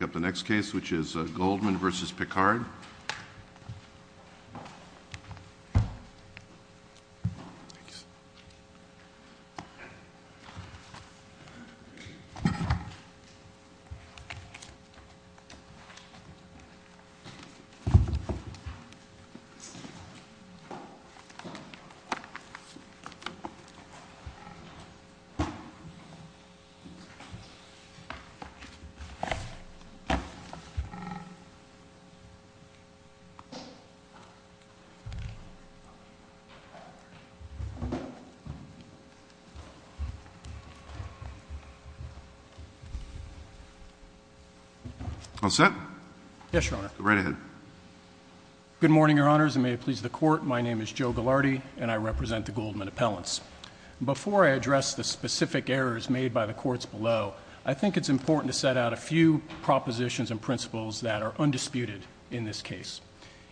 The next case, which is Goldman versus Picard. Good morning, Your Honors, and may it please the Court, my name is Joe Ghilardi, and I represent the Goldman Appellants. Before I address the specific errors made by the courts below, I think it's important to set out a few propositions and principles that are undisputed in this case.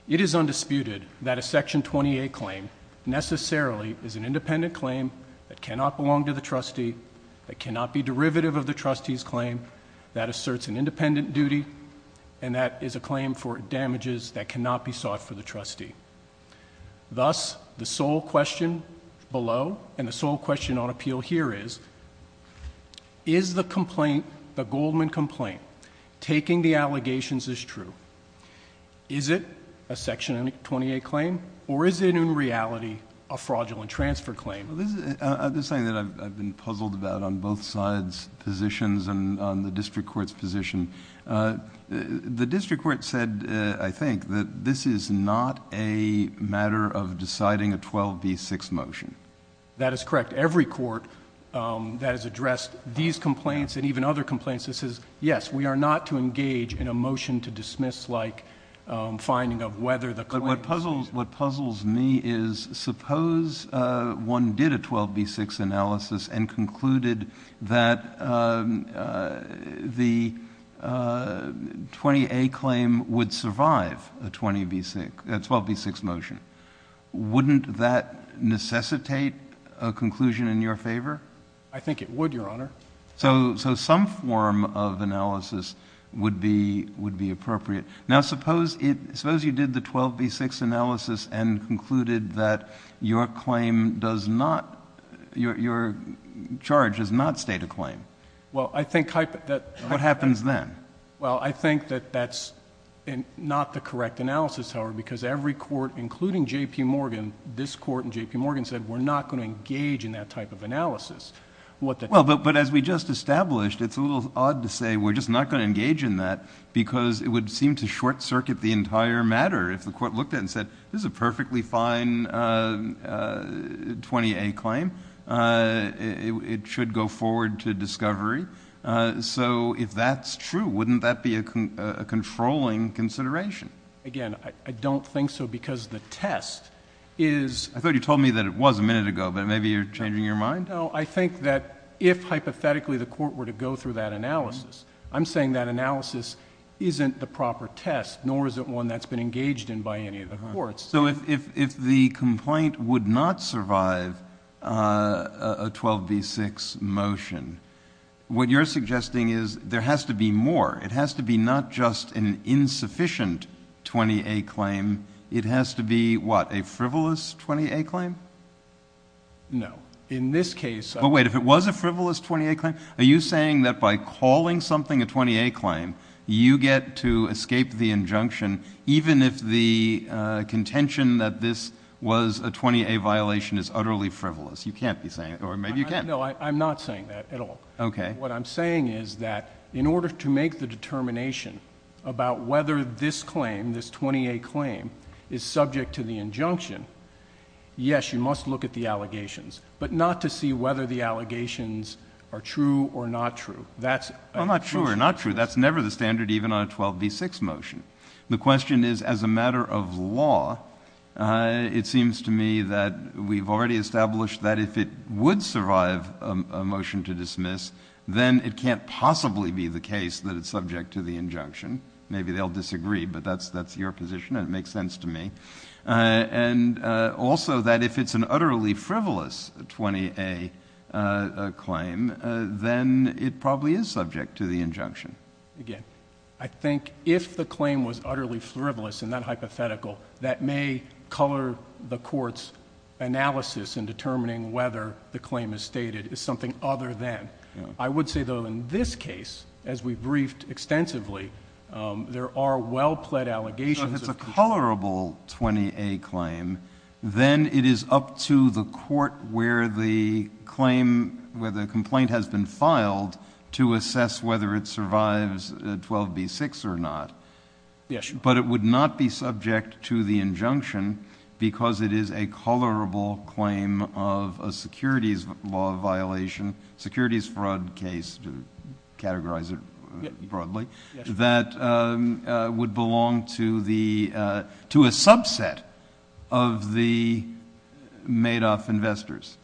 It is undisputed that a Section 28 claim necessarily is an independent claim that cannot belong to the trustee, that cannot be derivative of the trustee's claim, that asserts an independent duty, and that is a claim for damages that cannot be sought for the trustee. Thus, the sole question below, and the sole question on appeal here is, is the complaint the Goldman complaint, taking the allegations as true? Is it a Section 28 claim, or is it in reality a fraudulent transfer claim? This is something that I've been puzzled about on both sides' positions and on the district court's position. The district court said, I think, that this is not a matter of deciding a 12B6 motion. That is correct. Every court that has addressed these complaints and even other complaints that says, yes, we are not to engage in a motion to dismiss-like finding of whether the claim is true. What puzzles me is, suppose one did a 12B6 analysis and concluded that the 20A claim would survive a 12B6 motion. Wouldn't that necessitate a conclusion in your favor? I think it would, Your Honor. So some form of analysis would be appropriate. Now, suppose you did the 12B6 analysis and concluded that your charge does not state a claim. Well, I think that- What happens then? Well, I think that that's not the correct analysis, however, because every court, including J.P. Morgan, this court and J.P. Morgan said, we're not going to engage in that type of analysis. Well, but as we just established, it's a little odd to say we're just not going to engage in that because it would seem to short-circuit the entire matter. If the court looked at it and said, this is a perfectly fine 20A claim, it should go forward to discovery. So if that's true, wouldn't that be a controlling consideration? Again, I don't think so because the test is- I thought you told me that it was a minute ago, but maybe you're changing your mind? No, I think that if hypothetically the court were to go through that analysis, I'm saying that analysis isn't the proper test, nor is it one that's been engaged in by any of the courts. So if the complaint would not survive a 12B6 motion, what you're suggesting is there has to be more. It has to be not just an insufficient 20A claim, it has to be, what, a frivolous 20A claim? No. In this case- But wait, if it was a frivolous 20A claim, are you saying that by calling something a 20A claim, you get to escape the injunction even if the contention that this was a 20A violation is utterly frivolous? You can't be saying that, or maybe you can. No, I'm not saying that at all. What I'm saying is that in order to make the determination about whether this claim, this 20A claim, is subject to the injunction, yes, you must look at the allegations, but not to see whether the allegations are true or not true. That's- Well, not true or not true. That's never the standard even on a 12B6 motion. The question is, as a matter of law, it seems to me that we've already established that if it would survive a motion to dismiss, then it can't possibly be the case that it's subject to the injunction. Maybe they'll disagree, but that's your position, and it makes sense to me. And also that if it's an utterly frivolous 20A claim, then it probably is subject to the injunction. Again, I think if the claim was utterly frivolous in that hypothetical, that may color the court's analysis in determining whether the claim is stated as something other than. I would say, though, in this case, as we've briefed extensively, there are well-plaid allegations of- If it is a colorable 20A claim, then it is up to the court where the complaint has been filed to assess whether it survives 12B6 or not. But it would not be subject to the injunction because it is a colorable claim of a securities law violation, securities fraud case to categorize it broadly, that would belong to a subset of the Madoff investors.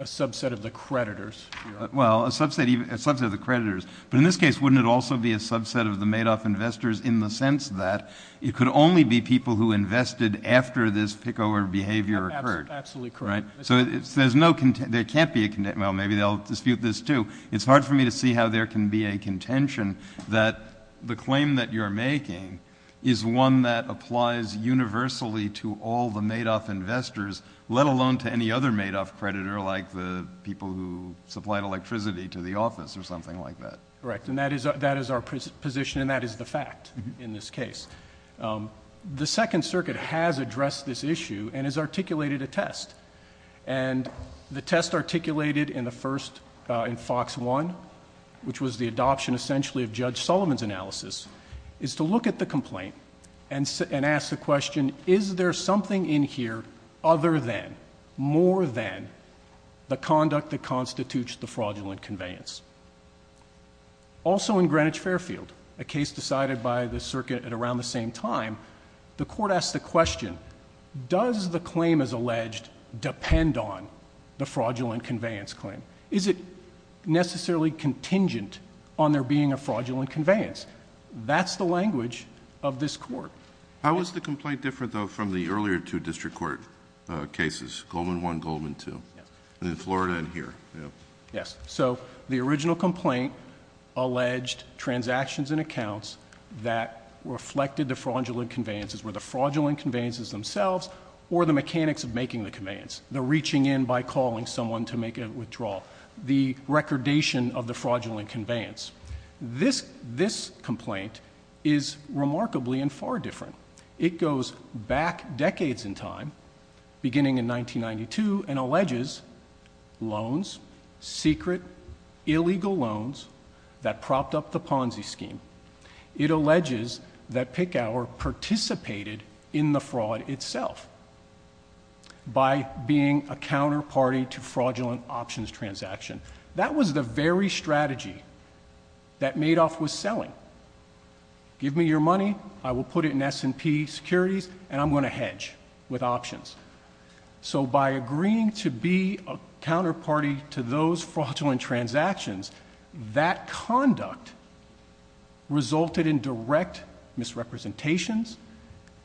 A subset of the creditors. Well, a subset of the creditors, but in this case, wouldn't it also be a subset of the Madoff investors in the sense that it could only be people who invested after this pickover behavior occurred? Absolutely correct. So there can't be a contention, well, maybe they'll dispute this too. It's hard for me to see how there can be a contention that the claim that you're making is one that applies universally to all the Madoff investors, let alone to any other Madoff creditor like the people who supplied electricity to the office or something like that. Correct. And that is our position and that is the fact in this case. The Second Circuit has addressed this issue and has articulated a test. And the test articulated in the first, in Fox 1, which was the adoption essentially of Judge Sullivan's analysis, is to look at the complaint and ask the question, is there something in here other than, more than, the conduct that constitutes the fraudulent conveyance? Also, in Greenwich-Fairfield, a case decided by the circuit at around the same time, the court asked the question, does the claim as alleged depend on the fraudulent conveyance claim? Is it necessarily contingent on there being a fraudulent conveyance? That's the language of this court. How was the complaint different though from the earlier two district court cases, Goldman 1, Goldman 2? Yes. In Florida and here? Yes. So the original complaint alleged transactions and accounts that reflected the fraudulent conveyances were the fraudulent conveyances themselves or the mechanics of making the conveyance, the reaching in by calling someone to make a withdrawal, the recordation of the fraudulent conveyance. This complaint is remarkably and far different. It goes back decades in time, beginning in 1992, and alleges loans, secret, illegal loans that propped up the Ponzi scheme. It alleges that Picower participated in the fraud itself by being a counterparty to fraudulent options transaction. That was the very strategy that Madoff was selling. Give me your money, I will put it in S&P Securities, and I'm going to hedge with options. So by agreeing to be a counterparty to those fraudulent transactions, that conduct resulted in direct misrepresentations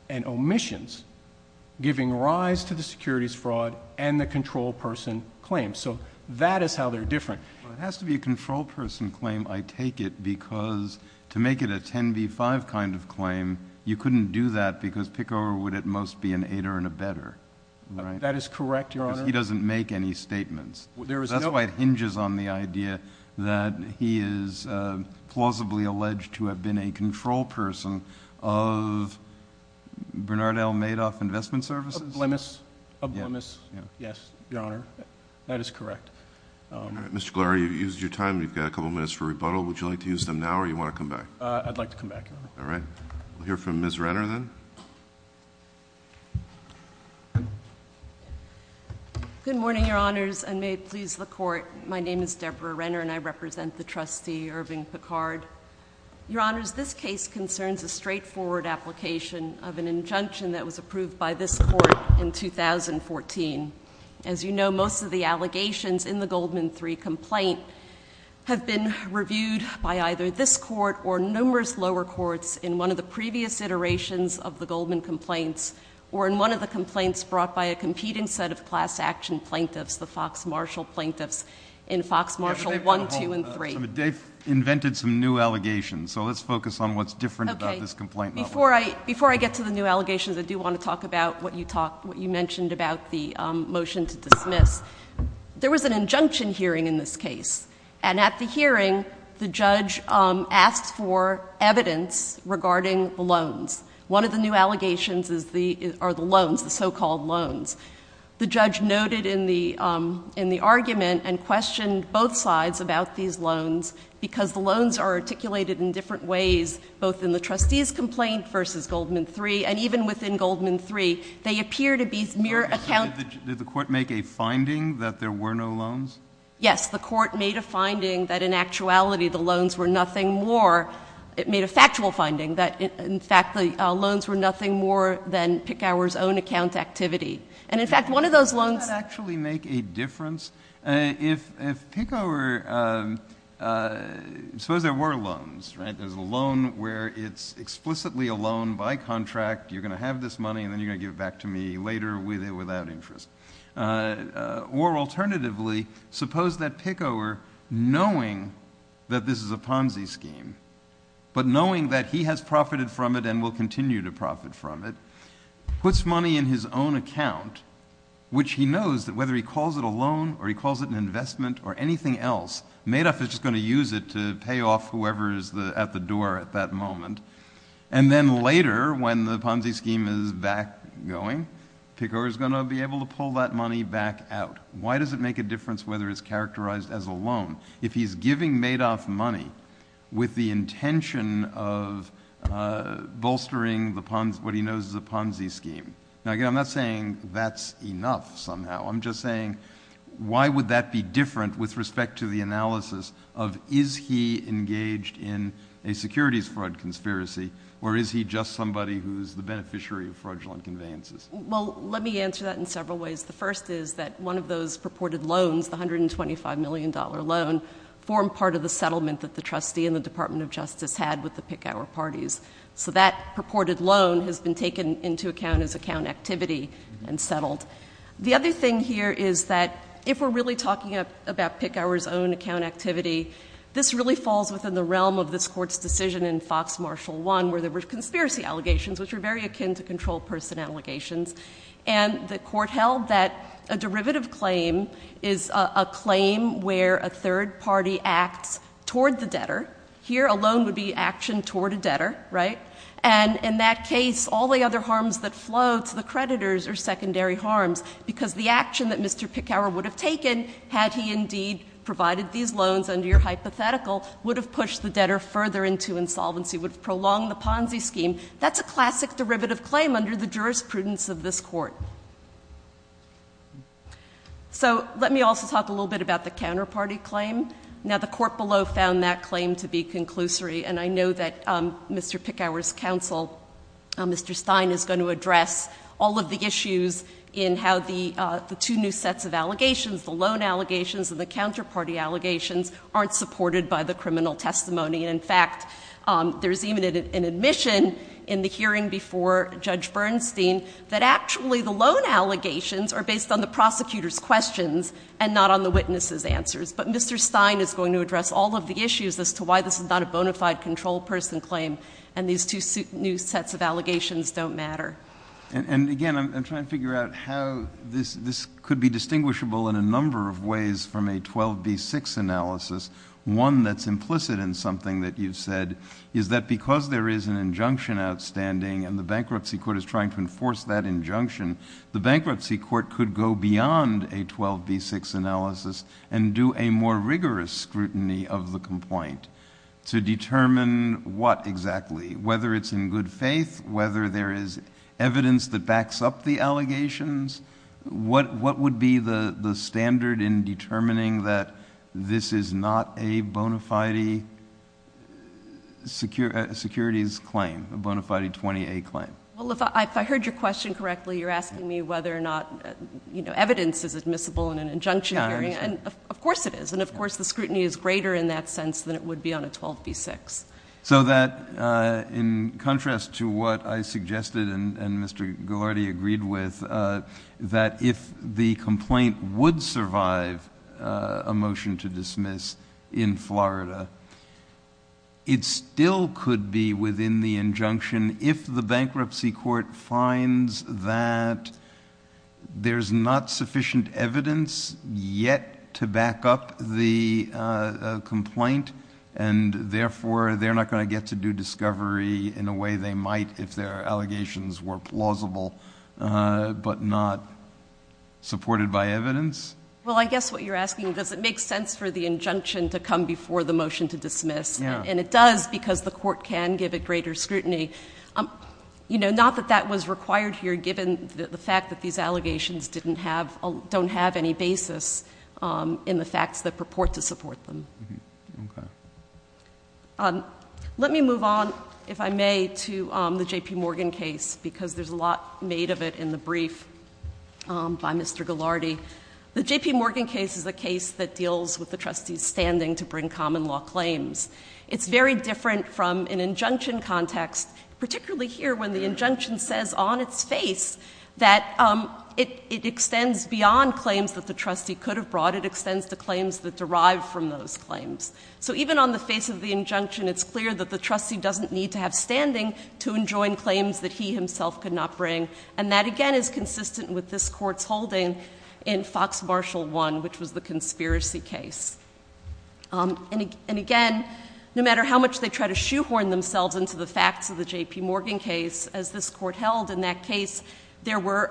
and omissions, giving rise to the securities fraud and the control person claim. So that is how they're different. It has to be a control person claim, I take it, because to make it a 10-B-5 kind of claim, you couldn't do that because Picower would at most be an aider and abetter. That is correct, Your Honor. Because he doesn't make any statements. That's why it hinges on the idea that he is plausibly alleged to have been a control person of Bernard L. Madoff Investment Services? Of Blemis, yes, Your Honor. That is correct. All right. Mr. Glauer, you've used your time. We've got a couple minutes for rebuttal. Would you like to use them now, or do you want to come back? I'd like to come back, Your Honor. All right. We'll hear from Ms. Renner, then. Good morning, Your Honors, and may it please the Court. My name is Deborah Renner, and I represent the trustee, Irving Picard. Your Honors, this case concerns a straightforward application of an injunction that was approved by this Court in 2014. As you know, most of the allegations in the Goldman 3 complaint have been reviewed by either this Court or numerous lower courts in one of the previous iterations of the Goldman complaints, or in one of the complaints brought by a competing set of class action plaintiffs, the Fox-Marshall plaintiffs, in Fox-Marshall 1, 2, and 3. They've invented some new allegations, so let's focus on what's different about this complaint model. Okay. Before I get to the new allegations, I do want to talk about what you mentioned about the motion to dismiss. There was an injunction hearing in this case, and at the hearing, the judge asked for evidence regarding the loans. One of the new allegations are the loans, the so-called loans. The judge noted in the argument and questioned both sides about these loans because the loans are articulated in different ways, both in the trustee's complaint versus Goldman 3, and even within Goldman 3, they appear to be mere account— Did the court make a finding that there were no loans? Yes. The court made a finding that in actuality, the loans were nothing more—it made a factual finding that, in fact, the loans were nothing more than Picower's own account activity. And in fact, one of those loans— Does that actually make a difference? If Picower—suppose there were loans, right? There's a loan where it's explicitly a loan by contract. You're going to have this money, and then you're going to give it back to me later with it without interest. Or alternatively, suppose that Picower, knowing that this is a Ponzi scheme, but knowing that he has profited from it and will continue to profit from it, puts money in his own account, which he knows that whether he calls it a loan or he calls it an investment or anything else, Madoff is just going to use it to pay off whoever is at the door at that moment. And then later, when the Ponzi scheme is back going, Picower is going to be able to pull that money back out. Why does it make a difference whether it's characterized as a loan if he's giving Madoff money with the intention of bolstering what he knows is a Ponzi scheme? Now, again, I'm not saying that's enough somehow. I'm just saying why would that be different with respect to the analysis of is he engaged in a securities fraud conspiracy, or is he just somebody who's the beneficiary of fraudulent conveyances? Well, let me answer that in several ways. The first is that one of those purported loans, the $125 million loan, formed part of the settlement that the trustee and the Department of Justice had with the Picower parties. So that purported loan has been taken into account as account activity and settled. The other thing here is that if we're really talking about Picower's own account activity, this really falls within the realm of this Court's decision in Fox-Marshall 1, where there were conspiracy allegations, which were very akin to control person allegations. And the Court held that a derivative claim is a claim where a third party acts toward the debtor. Here a loan would be actioned toward a debtor, right? And in that case, all the other harms that flow to the creditors are secondary harms, because the action that Mr. Picower would have taken, had he indeed provided these loans under your hypothetical, would have pushed the debtor further into insolvency, would have prolonged the Ponzi scheme. That's a classic derivative claim under the jurisprudence of this Court. So let me also talk a little bit about the counterparty claim. Now, the Court below found that claim to be conclusory. And I know that Mr. Picower's counsel, Mr. Stein, is going to address all of the issues in how the two new sets of allegations, the loan allegations and the counterparty allegations, aren't supported by the criminal testimony. And in fact, there's even an admission in the hearing before Judge Bernstein that actually the loan allegations are based on the prosecutor's questions and not on the witness's answers. But Mr. Stein is going to address all of the issues as to why this is not a bona fide control person claim and these two new sets of allegations don't matter. And again, I'm trying to figure out how this could be distinguishable in a number of ways from a 12B6 analysis. One that's implicit in something that you've said is that because there is an injunction outstanding and the bankruptcy court is trying to enforce that injunction, the bankruptcy court could go beyond a 12B6 analysis and do a more rigorous scrutiny of the complaint to determine what exactly, whether it's in good faith, whether there is evidence that backs up the allegations, what would be the standard in determining that this is not a bona fide securities claim, a bona fide 20A claim? Well, if I heard your question correctly, you're asking me whether or not, you know, evidence is admissible in an injunction hearing. And of course it is. And of course, the scrutiny is greater in that sense than it would be on a 12B6. So that in contrast to what I suggested and Mr. Ghilardi agreed with, that if the complaint would survive a motion to dismiss in Florida, it still could be within the injunction if the bankruptcy court finds that there's not sufficient evidence yet to back up the complaint and therefore they're not going to get to do discovery in a way they might if their allegations were plausible, but not supported by evidence. Well, I guess what you're asking, does it make sense for the injunction to come before the motion to dismiss? And it does because the court can give it greater scrutiny. You know, not that that was required here, given the fact that these allegations didn't have, don't have any basis in the facts that purport to support them. Let me move on, if I may, to the JP Morgan case, because there's a lot made of it in the brief by Mr. Ghilardi. The JP Morgan case is a case that deals with the trustee's standing to bring common law claims. It's very different from an injunction context, particularly here when the injunction says on its face that it extends beyond claims that the trustee could have brought. It extends to claims that derive from those claims. So even on the face of the injunction, it's clear that the trustee doesn't need to have standing to enjoin claims that he himself could not bring. And that, again, is consistent with this court's holding in Fox Marshall 1, which was the conspiracy case. And again, no matter how much they try to shoehorn themselves into the facts of the JP Morgan case, as this court held in that case, there were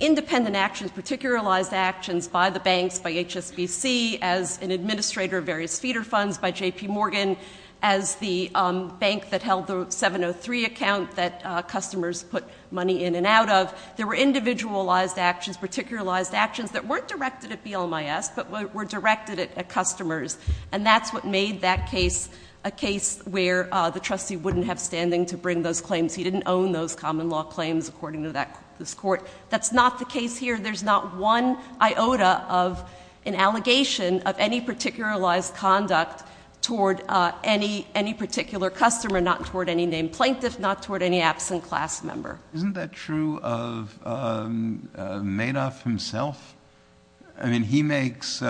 independent actions, particularized actions by the banks, by HSBC, as an administrator of various feeder funds by JP Morgan, as the bank that held the 703 account that customers put money in and out of. There were individualized actions, particularized actions that weren't directed at BLMIS, but were directed at customers. And that's what made that case a case where the trustee wouldn't have standing to bring those claims. He didn't own those common law claims, according to this court. That's not the case here. There's not one iota of an allegation of any particularized conduct toward any particular customer, not toward any named plaintiff, not toward any absent class member. Isn't that true of Madoff himself? I mean, he makes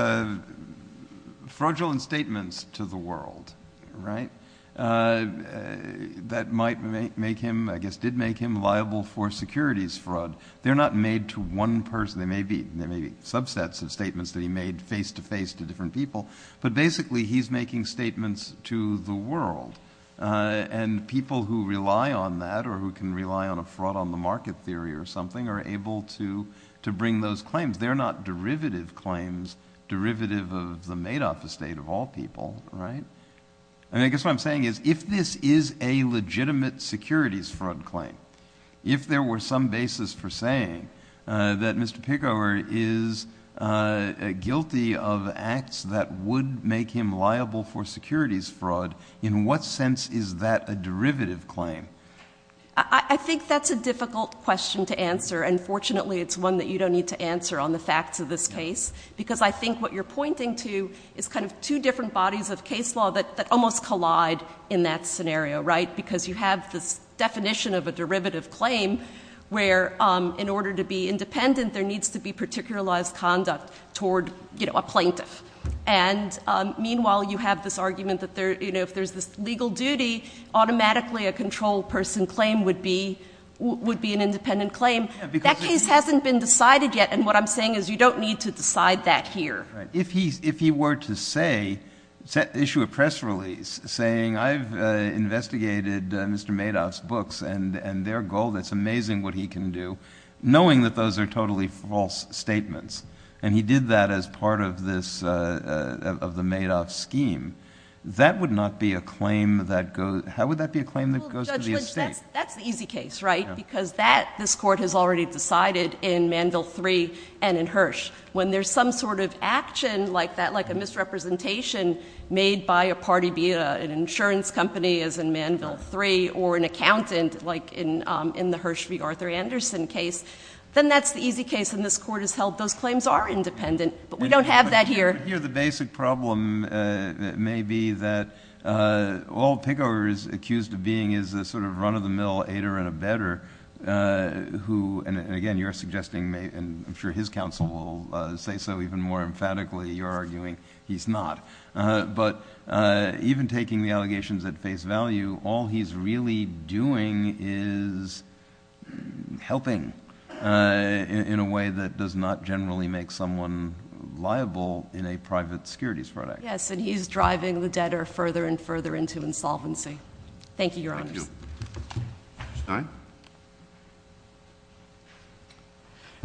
fraudulent statements to the world, right, that might make him, I guess, did make him liable for securities fraud. They're not made to one person. They may be subsets of statements that he made face to face to different people. But basically, he's making statements to the world. And people who rely on that, or who can rely on a fraud on the market theory or something, are able to bring those claims. They're not derivative claims, derivative of the Madoff estate of all people, right? And I guess what I'm saying is, if this is a legitimate securities fraud claim, if there were some basis for saying that Mr. Pickover is guilty of acts that would make him liable for securities fraud, in what sense is that a derivative claim? I think that's a difficult question to answer. And fortunately, it's one that you don't need to answer on the facts of this case, because I think what you're pointing to is kind of two different bodies of case law that almost collide in that scenario, right? Because you have this definition of a derivative claim, where in order to be independent, there needs to be particularized conduct toward a plaintiff. And meanwhile, you have this argument that if there's this legal duty, automatically a controlled person claim would be an independent claim. That case hasn't been decided yet. And what I'm saying is, you don't need to decide that here. If he were to say, issue a press release saying, I've investigated Mr. Madoff's books and their goal, that's amazing what he can do, knowing that those are totally false statements, and he did that as part of the Madoff scheme, that would not be a claim that goes, how would that be a claim that goes to the estate? That's the easy case, right? Because this court has already decided in Manville III and in Hirsch, when there's some sort of action like that, like a misrepresentation made by a party, be it an insurance company, as in Manville III, or an accountant, like in the Hirsch v. Arthur Anderson case, then that's the easy case. And this court has held those claims are independent, but we don't have that here. But here, the basic problem may be that all Pickover is accused of being is a sort of run-of-the-mill aider and abetter, who, and again, you're suggesting, and I'm sure his counsel will say so even more emphatically, you're arguing he's not. But even taking the allegations at face value, all he's really doing is helping in a way that does not generally make someone liable in a private securities product. Yes, and he's driving the debtor further and further into insolvency. Thank you, Your Honor. Thank you. Stein?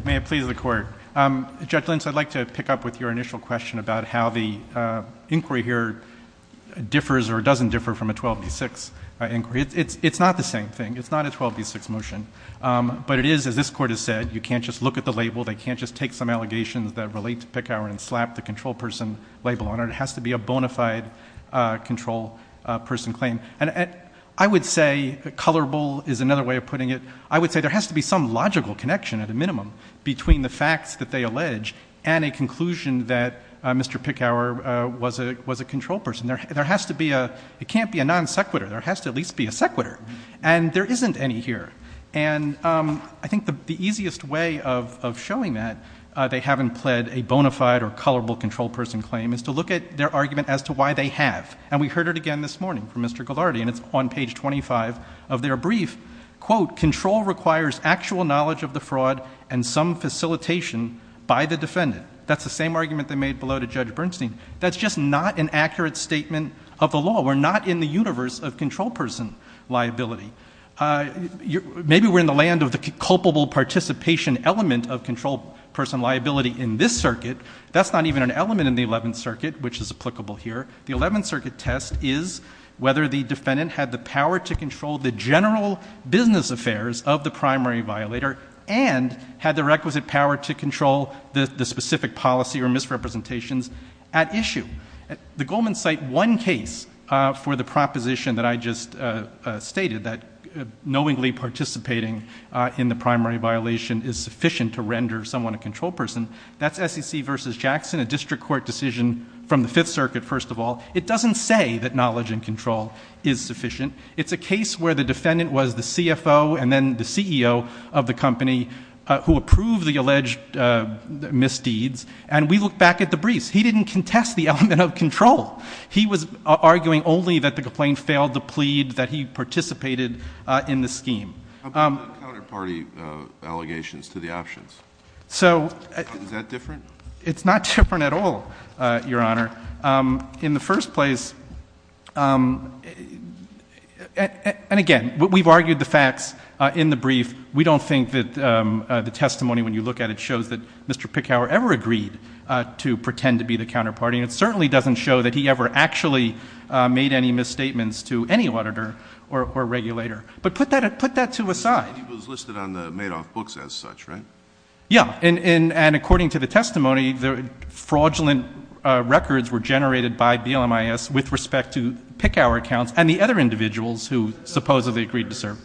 May it please the Court. Judge Lentz, I'd like to pick up with your initial question about how the inquiry here differs or doesn't differ from a 12 v. 6 inquiry. It's not the same thing. It's not a 12 v. 6 motion. But it is, as this Court has said, you can't just look at the label. They can't just take some allegations that relate to Pickover and slap the control person label on it. It has to be a bona fide control person claim. I would say colorable is another way of putting it. I would say there has to be some logical connection at a minimum between the facts that they allege and a conclusion that Mr. Pickover was a control person. There has to be a—it can't be a non sequitur. There has to at least be a sequitur. And there isn't any here. And I think the easiest way of showing that they haven't pled a bona fide or colorable control person claim is to look at their argument as to why they have. And we heard it again this morning from Mr. Ghilardi, and it's on page 25 of their brief. Quote, control requires actual knowledge of the fraud and some facilitation by the defendant. That's the same argument they made below to Judge Bernstein. That's just not an accurate statement of the law. We're not in the universe of control person liability. Maybe we're in the land of the culpable participation element of control person liability in this circuit. That's not even an element in the Eleventh Circuit, which is applicable here. The Eleventh Circuit test is whether the defendant had the power to control the general business affairs of the primary violator and had the requisite power to control the specific policy or misrepresentations at issue. The Golemans cite one case for the proposition that I just stated, that knowingly participating in the primary violation is sufficient to render someone a control person. That's SEC v. Jackson, a district court decision from the Fifth Circuit, first of all. It doesn't say that knowledge and control is sufficient. It's a case where the defendant was the CFO and then the CEO of the company who approved the alleged misdeeds, and we look back at the briefs. He didn't contest the element of control. He was arguing only that the complaint failed to plead that he participated in the scheme. How about the counterparty allegations to the options? Is that different? It's not different at all, Your Honor. In the first place, and again, we've argued the facts in the brief. We don't think that the testimony, when you look at it, shows that Mr. Pickhower ever agreed to pretend to be the counterparty, and it certainly doesn't show that he ever actually made any misstatements to any auditor or regulator. But put that two aside. He was listed on the Madoff books as such, right? Yeah, and according to the testimony, fraudulent records were generated by BLMIS with respect to Pickhower accounts and the other individuals who supposedly agreed to serve.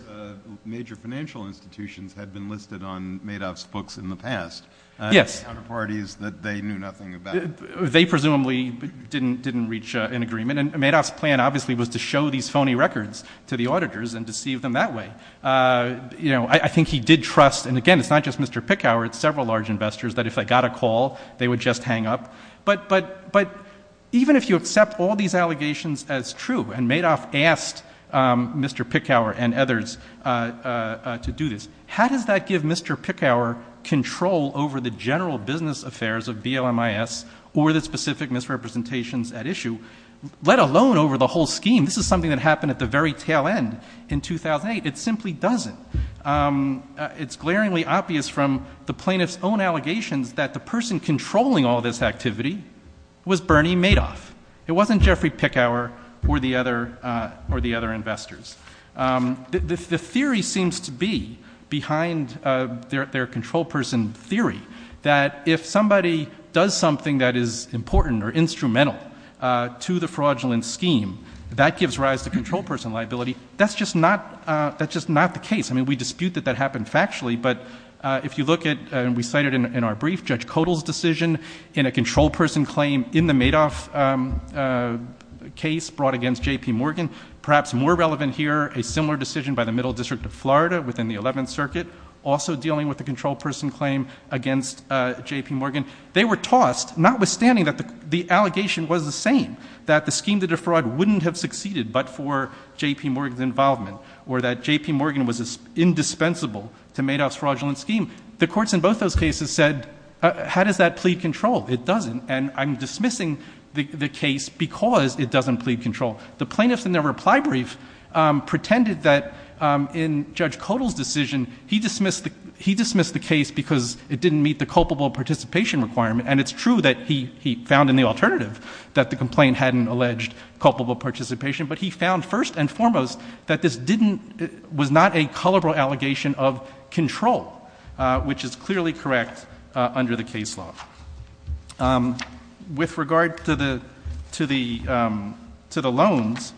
Major financial institutions had been listed on Madoff's books in the past. Yes. Counterparties that they knew nothing about. They presumably didn't reach an agreement, and Madoff's plan obviously was to show these I think he did trust, and again, it's not just Mr. Pickhower, it's several large investors that if they got a call, they would just hang up. But even if you accept all these allegations as true, and Madoff asked Mr. Pickhower and others to do this, how does that give Mr. Pickhower control over the general business affairs of BLMIS or the specific misrepresentations at issue, let alone over the whole scheme? This is something that happened at the very tail end in 2008. It simply doesn't. It's glaringly obvious from the plaintiff's own allegations that the person controlling all this activity was Bernie Madoff. It wasn't Jeffrey Pickhower or the other investors. The theory seems to be, behind their control person theory, that if somebody does something that is important or instrumental to the fraudulent scheme, that gives rise to control person liability. That's just not the case. We dispute that that happened factually, but if you look at, and we cited in our brief, Judge Kodal's decision in a control person claim in the Madoff case brought against J. P. Morgan, perhaps more relevant here, a similar decision by the Middle District of Florida within the 11th Circuit, also dealing with the control person claim against J. P. Morgan. They were tossed, notwithstanding that the allegation was the same, that the scheme to involvement or that J. P. Morgan was indispensable to Madoff's fraudulent scheme, the courts in both those cases said, how does that plead control? It doesn't. I'm dismissing the case because it doesn't plead control. The plaintiffs in their reply brief pretended that in Judge Kodal's decision, he dismissed the case because it didn't meet the culpable participation requirement. It's true that he found in the alternative that the complaint hadn't alleged culpable participation, but he found first and foremost that this didn't, was not a culpable allegation of control, which is clearly correct under the case law. With regard to the loans,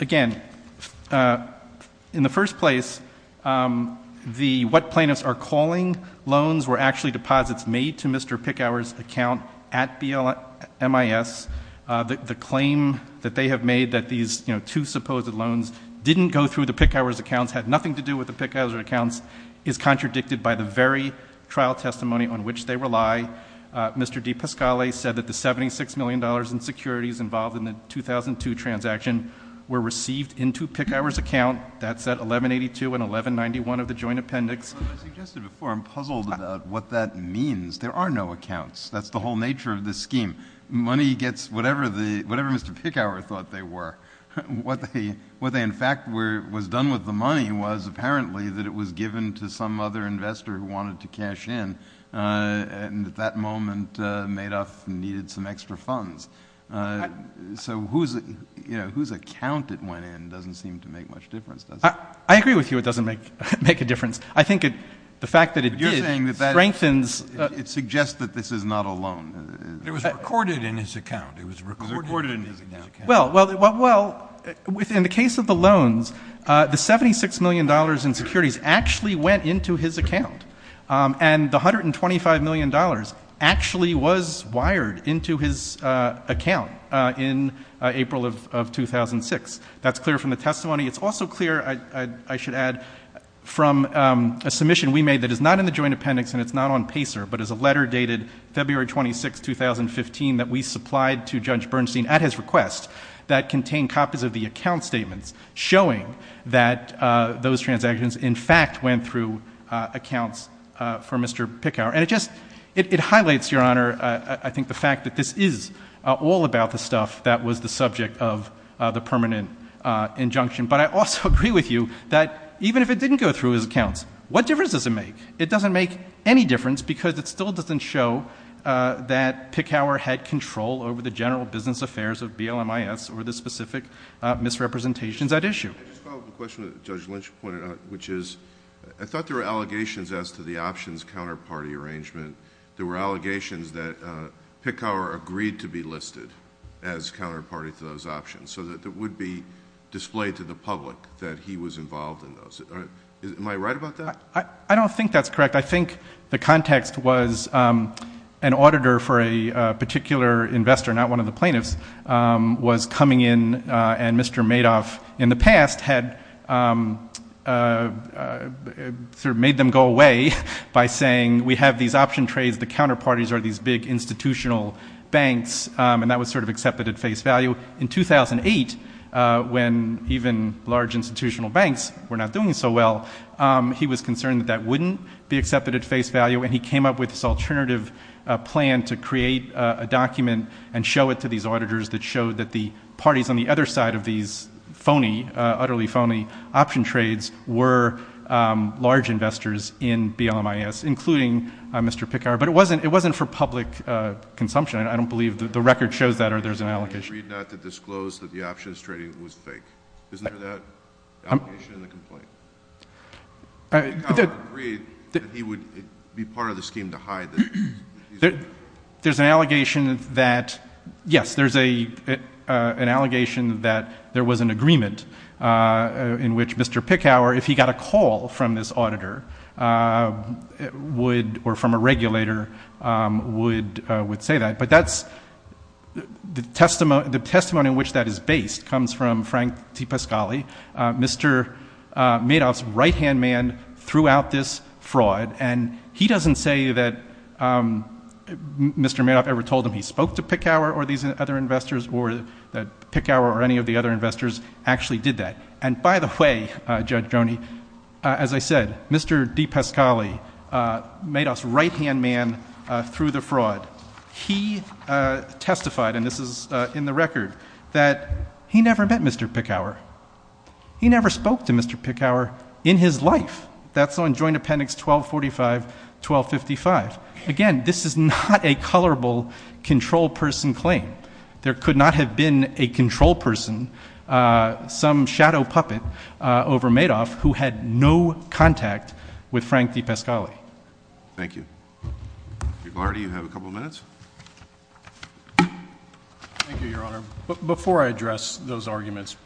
again, in the first place, the, what plaintiffs are calling loans were actually deposits made to Mr. Picower's account at BLMIS. The claim that they have made that these, you know, two supposed loans didn't go through the Picower's accounts, had nothing to do with the Picower's accounts, is contradicted by the very trial testimony on which they rely. Mr. DePascale said that the $76 million in securities involved in the 2002 transaction were received into Picower's account. That's at 1182 and 1191 of the joint appendix. As I suggested before, I'm puzzled about what that means. There are no accounts. That's the whole nature of this scheme. Money gets whatever the, whatever Mr. Picower thought they were. What they, what they in fact were, was done with the money was apparently that it was given to some other investor who wanted to cash in, and at that moment, Madoff needed some extra funds. So whose, you know, whose account it went in doesn't seem to make much difference, does it? I agree with you it doesn't make, make a difference. I think it, the fact that it did, strengthens — But you're saying that that, it suggests that this is not a loan. It was recorded in his account. It was recorded in his account. Well, well, well, well, within the case of the loans, the $76 million in securities actually went into his account. And the $125 million actually was wired into his account in April of, of 2006. That's clear from the testimony. It's also clear, I should add, from a submission we made that is not in the joint appendix and it's not on PACER, but is a letter dated February 26, 2015 that we supplied to Judge Bernstein at his request that contained copies of the account statements showing that those transactions in fact went through accounts for Mr. Picower. And it just, it highlights, Your Honor, I think the fact that this is all about the subject of the permanent injunction. But I also agree with you that even if it didn't go through his accounts, what difference does it make? It doesn't make any difference because it still doesn't show that Picower had control over the general business affairs of BLMIS or the specific misrepresentations at issue. I just follow up a question that Judge Lynch pointed out, which is, I thought there were allegations as to the options counterparty arrangement. There were allegations that Picower agreed to be listed as counterparty to those options so that it would be displayed to the public that he was involved in those. Am I right about that? I don't think that's correct. I think the context was an auditor for a particular investor, not one of the plaintiffs, was coming in and Mr. Madoff, in the past, had sort of made them go away by saying, we have these option trades, the counterparties are these big institutional banks, and that was sort of accepted at face value. In 2008, when even large institutional banks were not doing so well, he was concerned that that wouldn't be accepted at face value, and he came up with this alternative plan to create a document and show it to these auditors that showed that the parties on the other side of these phony, utterly phony option trades were large investors in BLMIS, including Mr. Picower. But it wasn't for public consumption. I don't believe the record shows that, or there's an allegation. He agreed not to disclose that the options trading was fake. Isn't there that allegation in the complaint? I mean, Picower agreed that he would be part of the scheme to hide that he's not. There's an allegation that, yes, there's an allegation that there was an agreement in which Mr. Picower, if he got a call from this auditor, or from a regulator, would say that. But the testimony in which that is based comes from Frank T. Pascali, Mr. Madoff's right-hand man throughout this fraud, and he doesn't say that Mr. Madoff ever told him he spoke to Picower or these other investors, or that Picower or any of the other investors actually did that. And by the way, Judge Joni, as I said, Mr. D. Pascali, Madoff's right-hand man through the fraud, he testified, and this is in the record, that he never met Mr. Picower. He never spoke to Mr. Picower in his life. That's on Joint Appendix 1245, 1255. Again, this is not a colorable control person claim. There could not have been a control person, some shadow puppet over Madoff, who had no contact with Frank D. Pascali. Thank you. Mr. Glardy, you have a couple of minutes. Thank you, Your Honor. Before I address those arguments,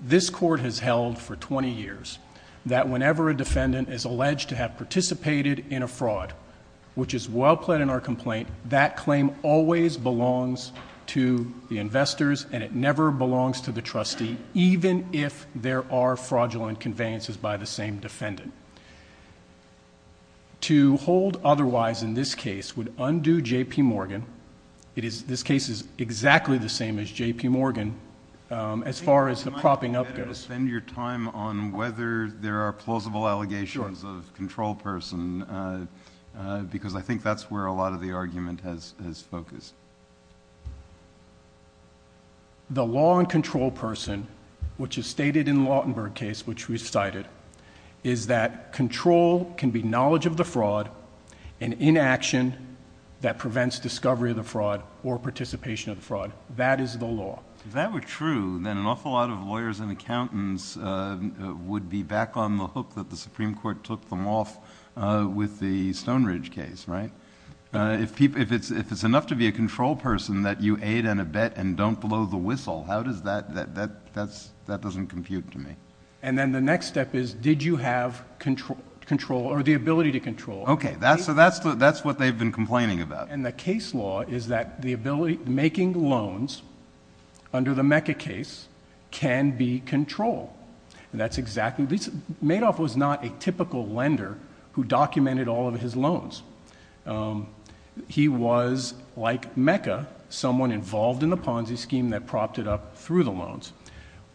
this Court has held for twenty years that whenever a defendant is alleged to have participated in a fraud, which is well-plaid in our complaint, that claim always belongs to the investors, and it never belongs to the trustee, even if there are fraudulent conveyances by the same defendant. To hold otherwise in this case would undo J.P. Morgan. This case is exactly the same as J.P. Morgan, as far as the propping up goes. Can I spend your time on whether there are plausible allegations of control person, because I think that's where a lot of the argument has focused. The law and control person, which is stated in the Lautenberg case, which we cited, is that control can be knowledge of the fraud and inaction that prevents discovery of the fraud or participation of the fraud. That is the law. If that were true, then an awful lot of lawyers and accountants would be back on the hook that the Supreme Court took them off with the Stone Ridge case, right? If it's enough to be a control person that you aid and abet and don't blow the whistle, how does that... that doesn't compute to me. Then the next step is, did you have control or the ability to control? Okay. That's what they've been complaining about. The case law is that the ability... making loans under the Mecca case can be control. That's exactly... Madoff was not a typical lender who documented all of his loans. He was, like Mecca, someone involved in the Ponzi scheme that propped it up through the loans.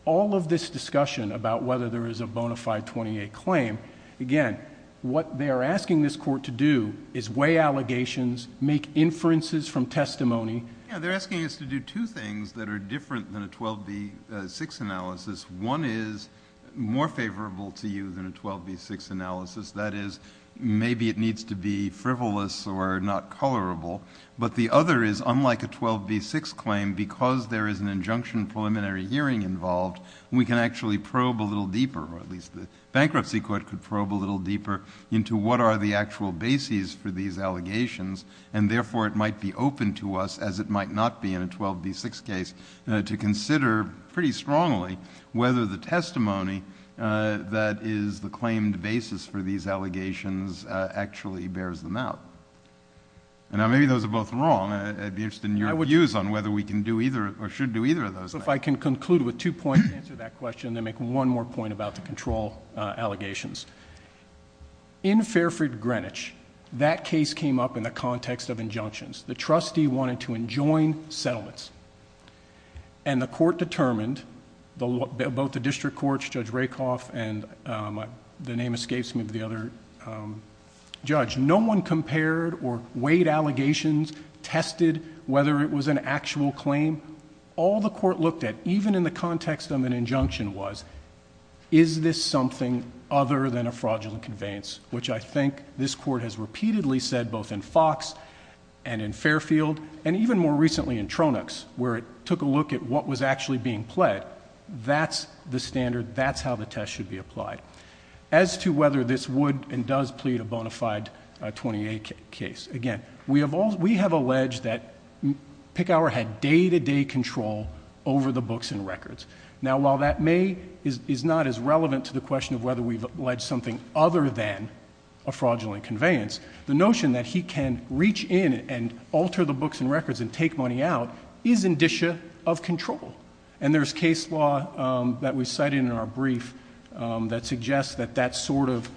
All of this discussion about whether there is a bona fide 28 claim, again, what they are asking this court to do is weigh allegations, make inferences from testimony... Yeah. They're asking us to do two things that are different than a 12B6 analysis. One is more favorable to you than a 12B6 analysis. That is, maybe it needs to be frivolous or not colorable. But the other is, unlike a 12B6 claim, because there is an injunction preliminary hearing involved, we can actually probe a little deeper, or at least the bankruptcy court could probe a little deeper, into what are the actual bases for these allegations. And therefore, it might be open to us, as it might not be in a 12B6 case, to consider pretty strongly whether the testimony that is the claimed basis for these allegations actually bears them out. And now, maybe those are both wrong. I'd be interested in your views on whether we can do either, or should do either of those things. If I can conclude with two points to answer that question, then make one more point about the control allegations. In Fairford, Greenwich, that case came up in the context of injunctions. The trustee wanted to enjoin settlements. And the court determined, both the district courts, Judge Rakoff, and the name escapes me, the other judge, no one compared or weighed allegations, tested whether it was an actual claim. All the court looked at, even in the context of an injunction was, is this something other than a fraudulent conveyance, which I think this court has repeatedly said, both in Fox and in Fairfield, and even more recently in Tronix, where it took a look at what was actually being pled, that's the standard, that's how the test should be applied. As to whether this would and does plead a bona fide 28 case, again, we have alleged that Picower had day-to-day control over the books and records. Now while that may, is not as relevant to the question of whether we've alleged something other than a fraudulent conveyance, the notion that he can reach in and alter the books and records and take money out is indicia of control. And there's case law that we cited in our brief that suggests that that's sort of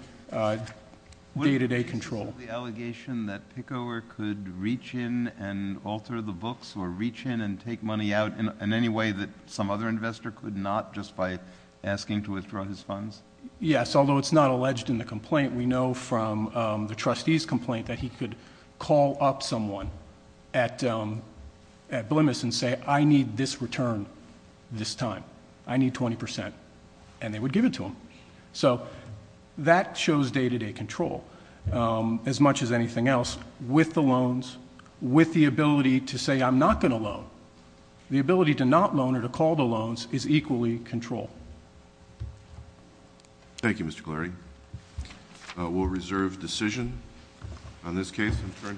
day-to-day control. Would you support the allegation that Picower could reach in and alter the books or reach in and take money out in any way that some other investor could not, just by asking to withdraw his funds? Yes, although it's not alleged in the complaint, we know from the trustee's complaint that he could call up someone at Blemis and say, I need this return this time. I need 20%, and they would give it to him. So that shows day-to-day control. As much as anything else, with the loans, with the ability to say I'm not going to loan, the ability to not loan or to call the loans is equally control. Thank you, Mr. Clary. We'll reserve decision on this case.